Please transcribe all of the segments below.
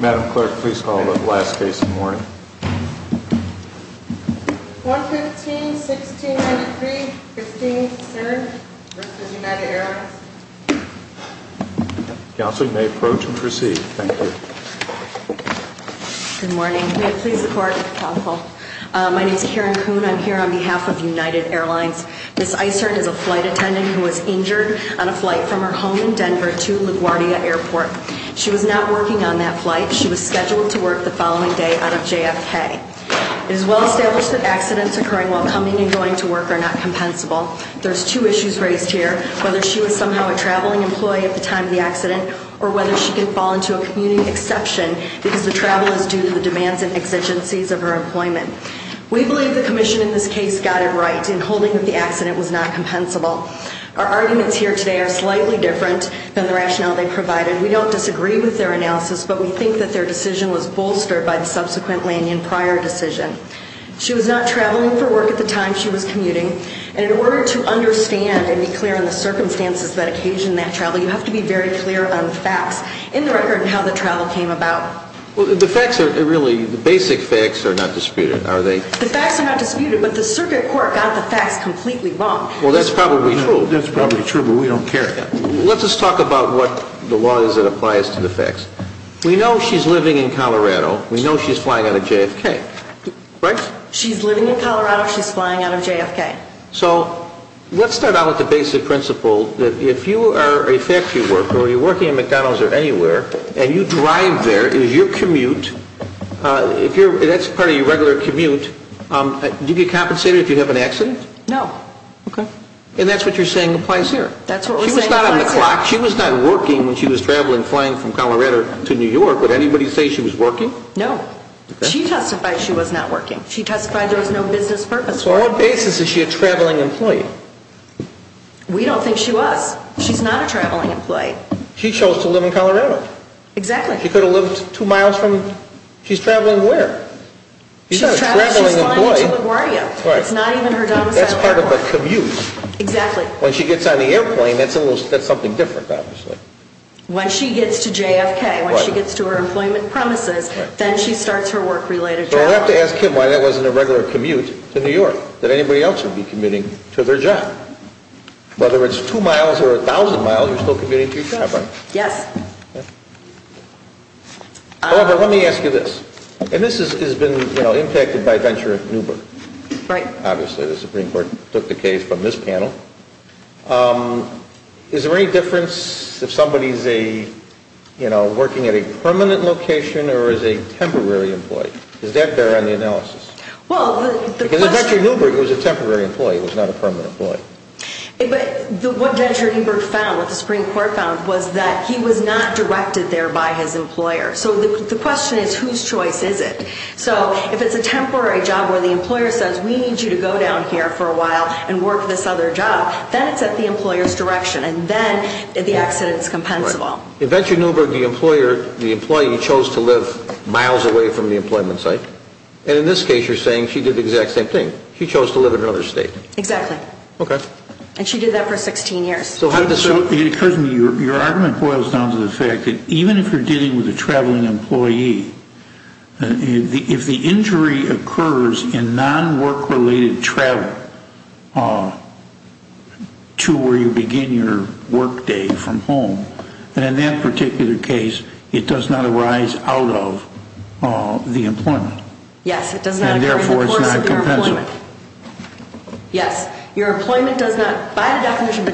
Madam Clerk, please call the last case in the morning. 115-1693, Christine Cern v. United Airlines Counselor, you may approach and proceed. Thank you. Good morning. May it please the Court, Counsel. My name is Karen Kuhn. I'm here on behalf of United Airlines. Ms. Isern is a flight attendant who was injured on a flight from her home in Denver to LaGuardia Airport. She was not working on that flight. She was scheduled to work the following day out of JFK. It is well established that accidents occurring while coming and going to work are not compensable. There's two issues raised here, whether she was somehow a traveling employee at the time of the accident or whether she can fall into a community exception because the travel is due to the demands and exigencies of her employment. We believe the Commission in this case got it right in holding that the accident was not compensable. Our arguments here today are slightly different than the rationale they provided. We don't disagree with their analysis, but we think that their decision was bolstered by the subsequent Lanyon Prior decision. She was not traveling for work at the time she was commuting. And in order to understand and be clear on the circumstances that occasioned that travel, you have to be very clear on the facts in the record and how the travel came about. Well, the facts are really, the basic facts are not disputed, are they? The facts are not disputed, but the circuit court got the facts completely wrong. Well, that's probably true. That's probably true, but we don't care. Let's just talk about what the law is that applies to the facts. We know she's living in Colorado. We know she's flying out of JFK, right? She's living in Colorado. She's flying out of JFK. So let's start out with the basic principle that if you are a factory worker or you're working at McDonald's or anywhere and you drive there, it is your commute, that's part of your regular commute, do you get compensated if you have an accident? No. Okay. And that's what you're saying applies here. That's what we're saying applies here. She was not on the clock. She was not working when she was traveling, flying from Colorado to New York. Would anybody say she was working? No. Okay. She testified she was not working. She testified there was no business purpose for her. On what basis is she a traveling employee? We don't think she was. She's not a traveling employee. She chose to live in Colorado. Exactly. She could have lived two miles from, she's traveling where? She's not a traveling employee. She's traveling, she's flying to LaGuardia. Right. It's not even her domicile airport. That's part of the commute. Exactly. When she gets on the airplane, that's something different, obviously. When she gets to JFK, when she gets to her employment premises, then she starts her work-related travel. So I have to ask him why that wasn't a regular commute to New York, that anybody else would be commuting to their job. Whether it's two miles or a thousand miles, you're still commuting to your job, right? Yes. However, let me ask you this. And this has been impacted by Venture and Uber. Right. Obviously, the Supreme Court took the case from this panel. Is there any difference if somebody is working at a permanent location or is a temporary employee? Does that bear on the analysis? Because Venture and Uber, it was a temporary employee. It was not a permanent employee. But what Venture and Uber found, what the Supreme Court found, was that he was not directed there by his employer. So the question is, whose choice is it? So if it's a temporary job where the employer says, we need you to go down here for a while and work this other job, then it's at the employer's direction, and then the accident is compensable. In Venture and Uber, the employee chose to live miles away from the employment site. And in this case, you're saying she did the exact same thing. She chose to live in another state. Exactly. Okay. And she did that for 16 years. Your argument boils down to the fact that even if you're dealing with a traveling employee, if the injury occurs in non-work-related travel to where you begin your work day from home, then in that particular case, it does not arise out of the employment. Yes. And therefore, it's not compensable. Yes. Your employment does not, by the definition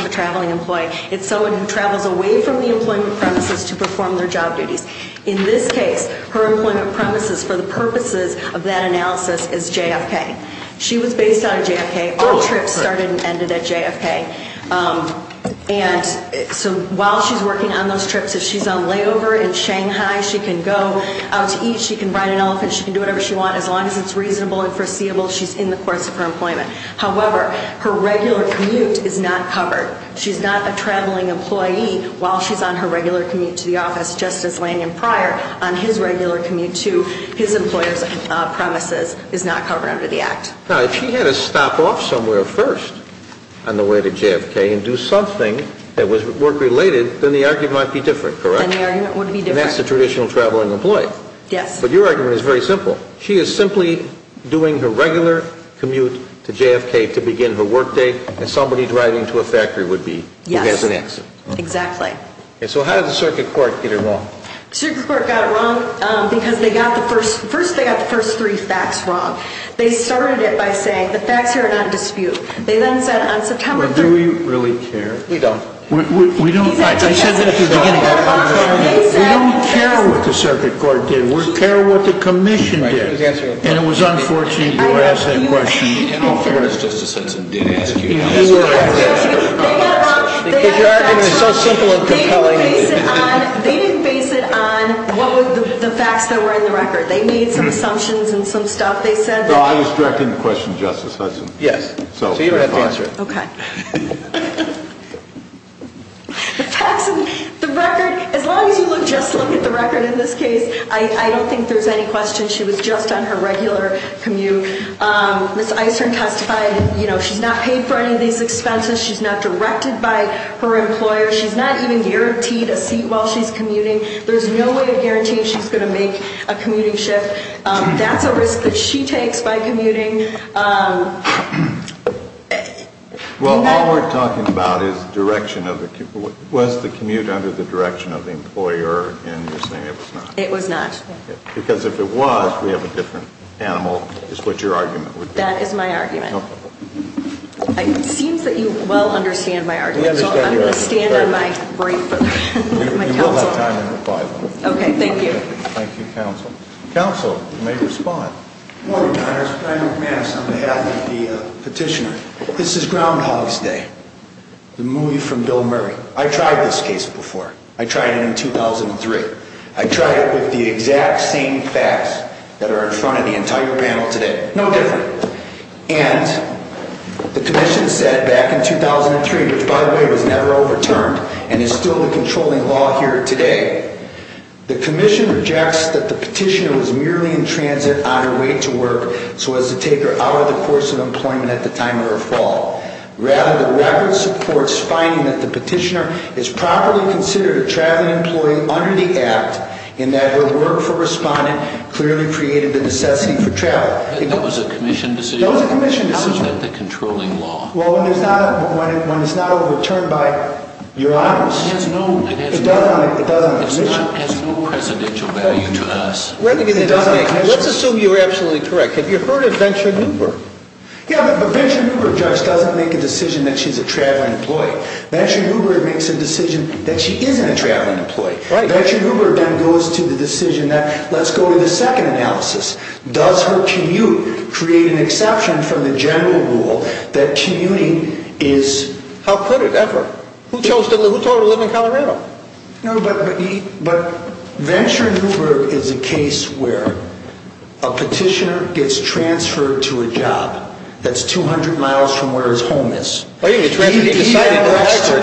of a traveling employee, it's someone who travels away from the employment premises to perform their job duties. In this case, her employment premises for the purposes of that analysis is JFK. She was based out of JFK. All trips started and ended at JFK. And so while she's working on those trips, if she's on layover in Shanghai, she can go out to eat. She can ride an elephant. She can do whatever she wants. As long as it's reasonable and foreseeable, she's in the course of her employment. However, her regular commute is not covered. She's not a traveling employee while she's on her regular commute to the office, just as Lanyon Prior on his regular commute to his employer's premises is not covered under the Act. Now, if she had to stop off somewhere first on the way to JFK and do something that was work-related, then the argument might be different, correct? Then the argument would be different. And that's the traditional traveling employee. Yes. But your argument is very simple. She is simply doing her regular commute to JFK to begin her work day, and somebody driving to a factory would be who has an accident. Yes, exactly. And so how did the Circuit Court get it wrong? Circuit Court got it wrong because they got the first three facts wrong. They started it by saying the facts here are not a dispute. They then said on September 3rd… Do we really care? We don't. We don't. I said that at the beginning. We don't care what the Circuit Court did. We don't care what the Commission did. And it was unfortunate you asked that question. In all fairness, Justice Hudson did ask you that question. They got it wrong. Your argument is so simple and compelling. They didn't base it on the facts that were in the record. They made some assumptions and some stuff. They said… No, I was directing the question to Justice Hudson. Yes. So you don't have to answer it. Okay. The facts in the record, as long as you just look at the record in this case, I don't think there's any question. She was just on her regular commute. Ms. Isern testified. She's not paid for any of these expenses. She's not directed by her employer. She's not even guaranteed a seat while she's commuting. There's no way of guaranteeing she's going to make a commuting shift. That's a risk that she takes by commuting. Well, all we're talking about is direction. Was the commute under the direction of the employer, and you're saying it was not? It was not. Because if it was, we have a different animal, is what your argument would be. That is my argument. Okay. It seems that you well understand my argument, so I'm going to stand on my brief for my counsel time. You will have time to reply, though. Okay. Thank you. Thank you, counsel. Counsel may respond. Good morning, Your Honors. Brian McManus on behalf of the petitioner. This is Groundhog's Day, the movie from Bill Murray. I tried this case before. I tried it in 2003. I tried it with the exact same facts that are in front of the entire panel today. No different. And the commission said back in 2003, which, by the way, was never overturned and is still the controlling law here today, the commission rejects that the petitioner was merely in transit on her way to work so as to take her out of the course of employment at the time of her fall. Rather, the record supports finding that the petitioner is properly considered a traveling employee under the Act in that her work for respondent clearly created the necessity for travel. That was a commission decision? That was a commission decision. How is that the controlling law? Well, when it's not overturned by Your Honors. It has no precedential value to us. Let's assume you're absolutely correct. Have you heard of Venture Uber? Yeah, but a Venture Uber judge doesn't make a decision that she's a traveling employee. Venture Uber makes a decision that she isn't a traveling employee. Venture Uber then goes to the decision that let's go to the second analysis. Does her commute create an exception from the general rule that commuting is, how could it ever? Who told her to live in Colorado? No, but Venture Uber is a case where a petitioner gets transferred to a job that's 200 miles from where his home is. He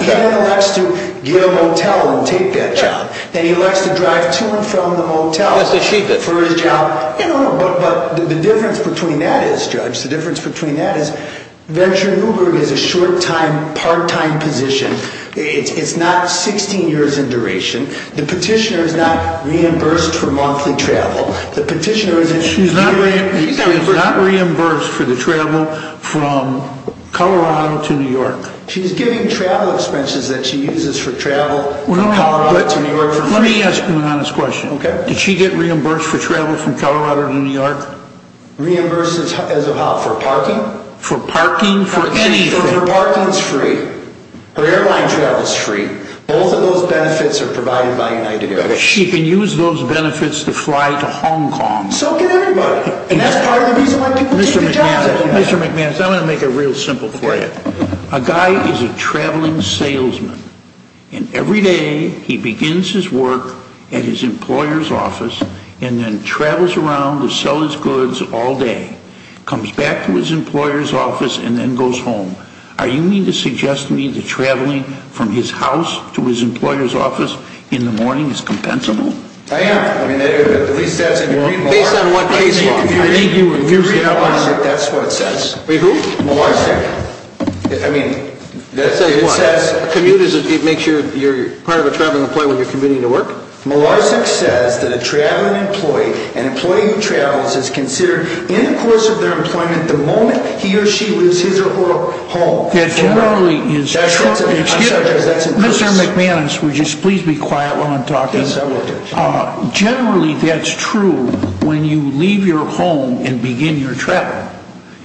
then elects to get a motel and take that job. Then he elects to drive to and from the motel for his job. But the difference between that is, Judge, the difference between that is It's not 16 years in duration. The petitioner is not reimbursed for monthly travel. She's not reimbursed for the travel from Colorado to New York. She's getting travel expenses that she uses for travel from Colorado to New York for free. Let me ask you an honest question. Did she get reimbursed for travel from Colorado to New York? Reimbursed as of how, for parking? For parking, for anything. If her parking's free, her airline travel's free, both of those benefits are provided by United Airways. She can use those benefits to fly to Hong Kong. So can everybody. And that's part of the reason why people take the job. Mr. McManus, I'm going to make it real simple for you. A guy is a traveling salesman. And every day, he begins his work at his employer's office and then travels around to sell his goods all day, comes back to his employer's office, and then goes home. Are you meaning to suggest to me that traveling from his house to his employer's office in the morning is compensable? I am. I mean, at least that's in the Green Law. Based on what case law? I think you're confusing it. The Green Law says that that's what it says. Wait, who? Molarsic. I mean, it says what? It says a commute makes you part of a traveling employee when you're commuting to work? Molarsic says that a traveling employee, an employee who travels, is considered, in the course of their employment, the moment he or she leaves his or her home. That generally is true. Mr. McManus, would you please be quiet while I'm talking? Yes, I will. Generally, that's true when you leave your home and begin your travel.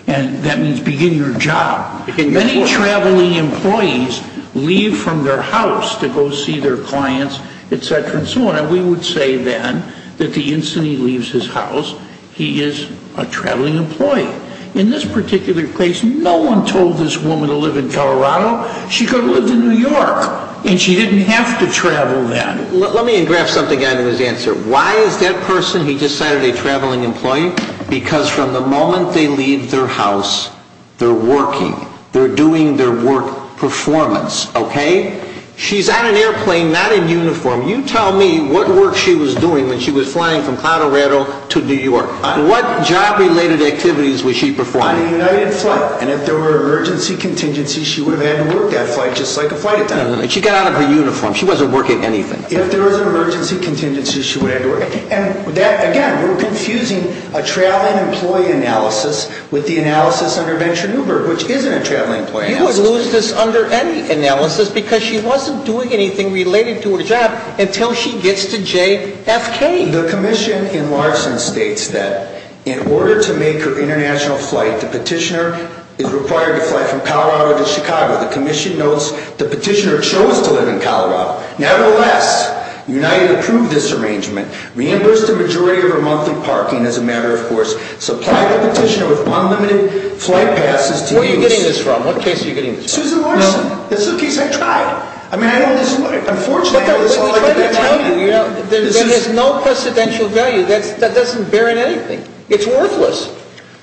And that means begin your job. Many traveling employees leave from their house to go see their clients, et cetera, and so on. And we would say, then, that the instant he leaves his house, he is a traveling employee. In this particular case, no one told this woman to live in Colorado. She could have lived in New York, and she didn't have to travel then. Let me engraft something out of his answer. Why is that person, he decided, a traveling employee? Because from the moment they leave their house, they're working. They're doing their work performance, okay? She's on an airplane, not in uniform. You tell me what work she was doing when she was flying from Colorado to New York. What job-related activities was she performing? On a United flight. And if there were emergency contingencies, she would have had to work that flight, just like a flight attendant. No, no, no. She got out of her uniform. She wasn't working anything. If there were emergency contingencies, she would have had to work. And, again, we're confusing a traveling employee analysis with the analysis under Venture Newberg, which isn't a traveling employee analysis. You would lose this under any analysis because she wasn't doing anything related to her job until she gets to JFK. The commission in Larson states that in order to make her international flight, the petitioner is required to fly from Colorado to Chicago. The commission notes the petitioner chose to live in Colorado. Nevertheless, United approved this arrangement, reimbursed the majority of her monthly parking, as a matter of course, supplied the petitioner with unlimited flight passes to the U.S. Who are you getting this from? What case are you getting this from? Susan Larson. This is a case I tried. I mean, unfortunately, that's all I can tell you. There is no precedential value. That doesn't bear in anything. It's worthless.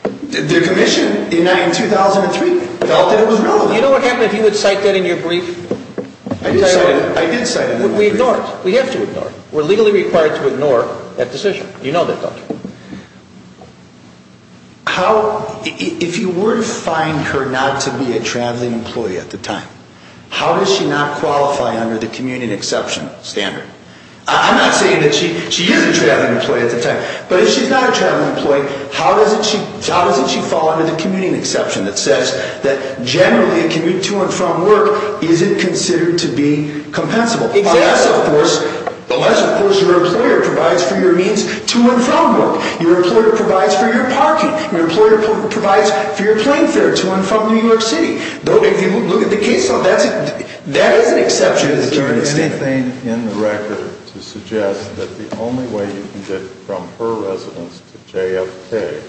The commission in 2003 felt that it was relevant. You know what would happen if you would cite that in your brief? I did cite it in my brief. We ignore it. We have to ignore it. We're legally required to ignore that decision. You know that, don't you? If you were to find her not to be a traveling employee at the time, how does she not qualify under the commuting exception standard? I'm not saying that she is a traveling employee at the time, but if she's not a traveling employee, how doesn't she fall under the commuting exception that says that generally a commute to and from work isn't considered to be compensable? Unless, of course, your employer provides for your means to and from work. Your employer provides for your parking. Your employer provides for your plane fare to and from New York City. If you look at the case law, that is an exception to the commuting standard. Is there anything in the record to suggest that the only way you can get from her residence to JFK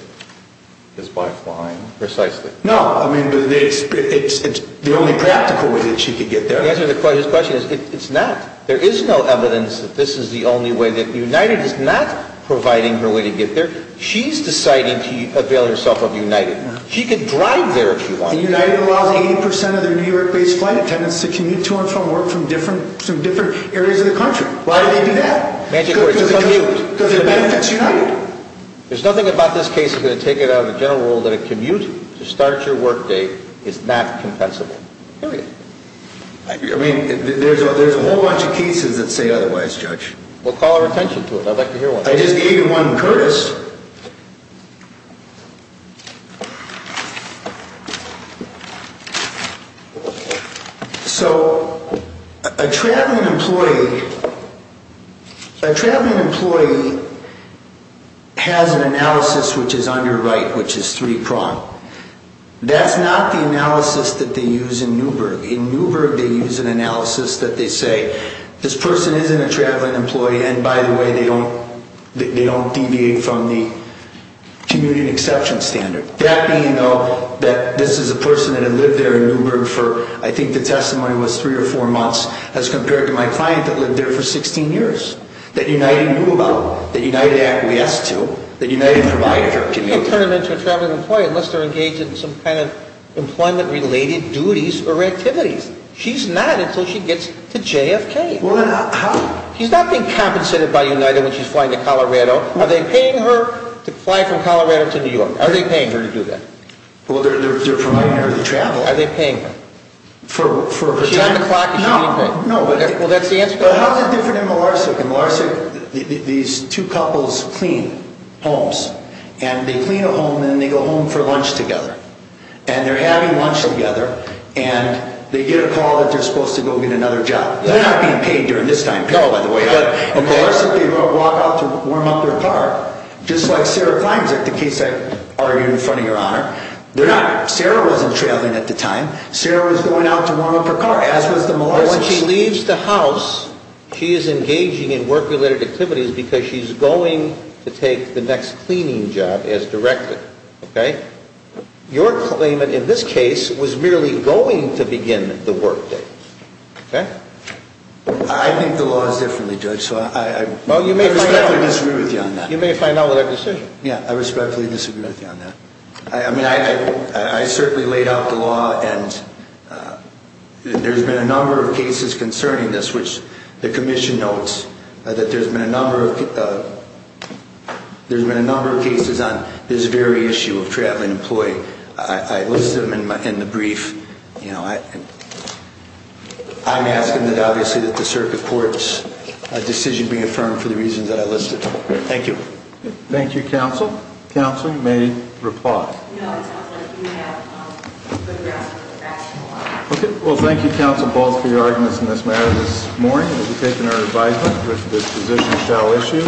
is by flying? Precisely. No, I mean, it's the only practical way that she could get there. The answer to his question is it's not. There is no evidence that this is the only way that United is not providing her way to get there. She's deciding to avail herself of United. She could drive there if she wanted to. United allows 80 percent of their New York-based flight attendants to commute to and from work from different areas of the country. Why would they do that? Magic words. Because it benefits United. There's nothing about this case that's going to take it out of the general rule that a commute to start your workday is not compensable. Period. I mean, there's a whole bunch of cases that say otherwise, Judge. We'll call our attention to it. I'd like to hear one. I just gave you one, Curtis. So a traveling employee has an analysis which is underwrite, which is three-pronged. That's not the analysis that they use in Newburgh. In Newburgh, they use an analysis that they say this person isn't a traveling employee and, by the way, they don't deviate from the commuting exception standard. That being, though, that this is a person that had lived there in Newburgh for, I think the testimony was three or four months, as compared to my client that lived there for 16 years, that United knew about, that United actually asked to, that United provided her commute. You can't turn them into a traveling employee unless they're engaged in some kind of employment-related duties or activities. She's not until she gets to JFK. Well, then how? She's not being compensated by United when she's flying to Colorado. Are they paying her to fly from Colorado to New York? Are they paying her to do that? Well, they're providing her the travel. Are they paying her? For time? What time o'clock is she being paid? No, no. Well, that's the answer to that. Well, how is it different in Mlarsuk? In Mlarsuk, these two couples clean homes, and they clean a home, and then they go home for lunch together. And they're having lunch together, and they get a call that they're supposed to go get another job. They're not being paid during this time period, by the way. No. In Mlarsuk, they walk out to warm up their car. Just like Sarah Klein is at the case I argued in front of Your Honor. They're not. Sarah wasn't traveling at the time. Sarah was going out to warm up her car, as was the Mlarsuk case. Well, when she leaves the house, she is engaging in work-related activities because she's going to take the next cleaning job as directed. Okay? Your claimant in this case was merely going to begin the work day. Okay? I think the law is differently, Judge, so I respectfully disagree with you on that. You may find out with a decision. Yeah, I respectfully disagree with you on that. I mean, I certainly laid out the law, and there's been a number of cases concerning this, which the commission notes that there's been a number of cases on this very issue of traveling employee. I listed them in the brief. You know, I'm asking that, obviously, that the circuit court's decision be affirmed for the reasons that I listed. Thank you. Thank you, counsel. Counsel, you may reply. No, it sounds like you have a good grasp of the rationale. Okay. Well, thank you, counsel, both for your arguments in this matter this morning. We've taken our advisement that this position shall issue.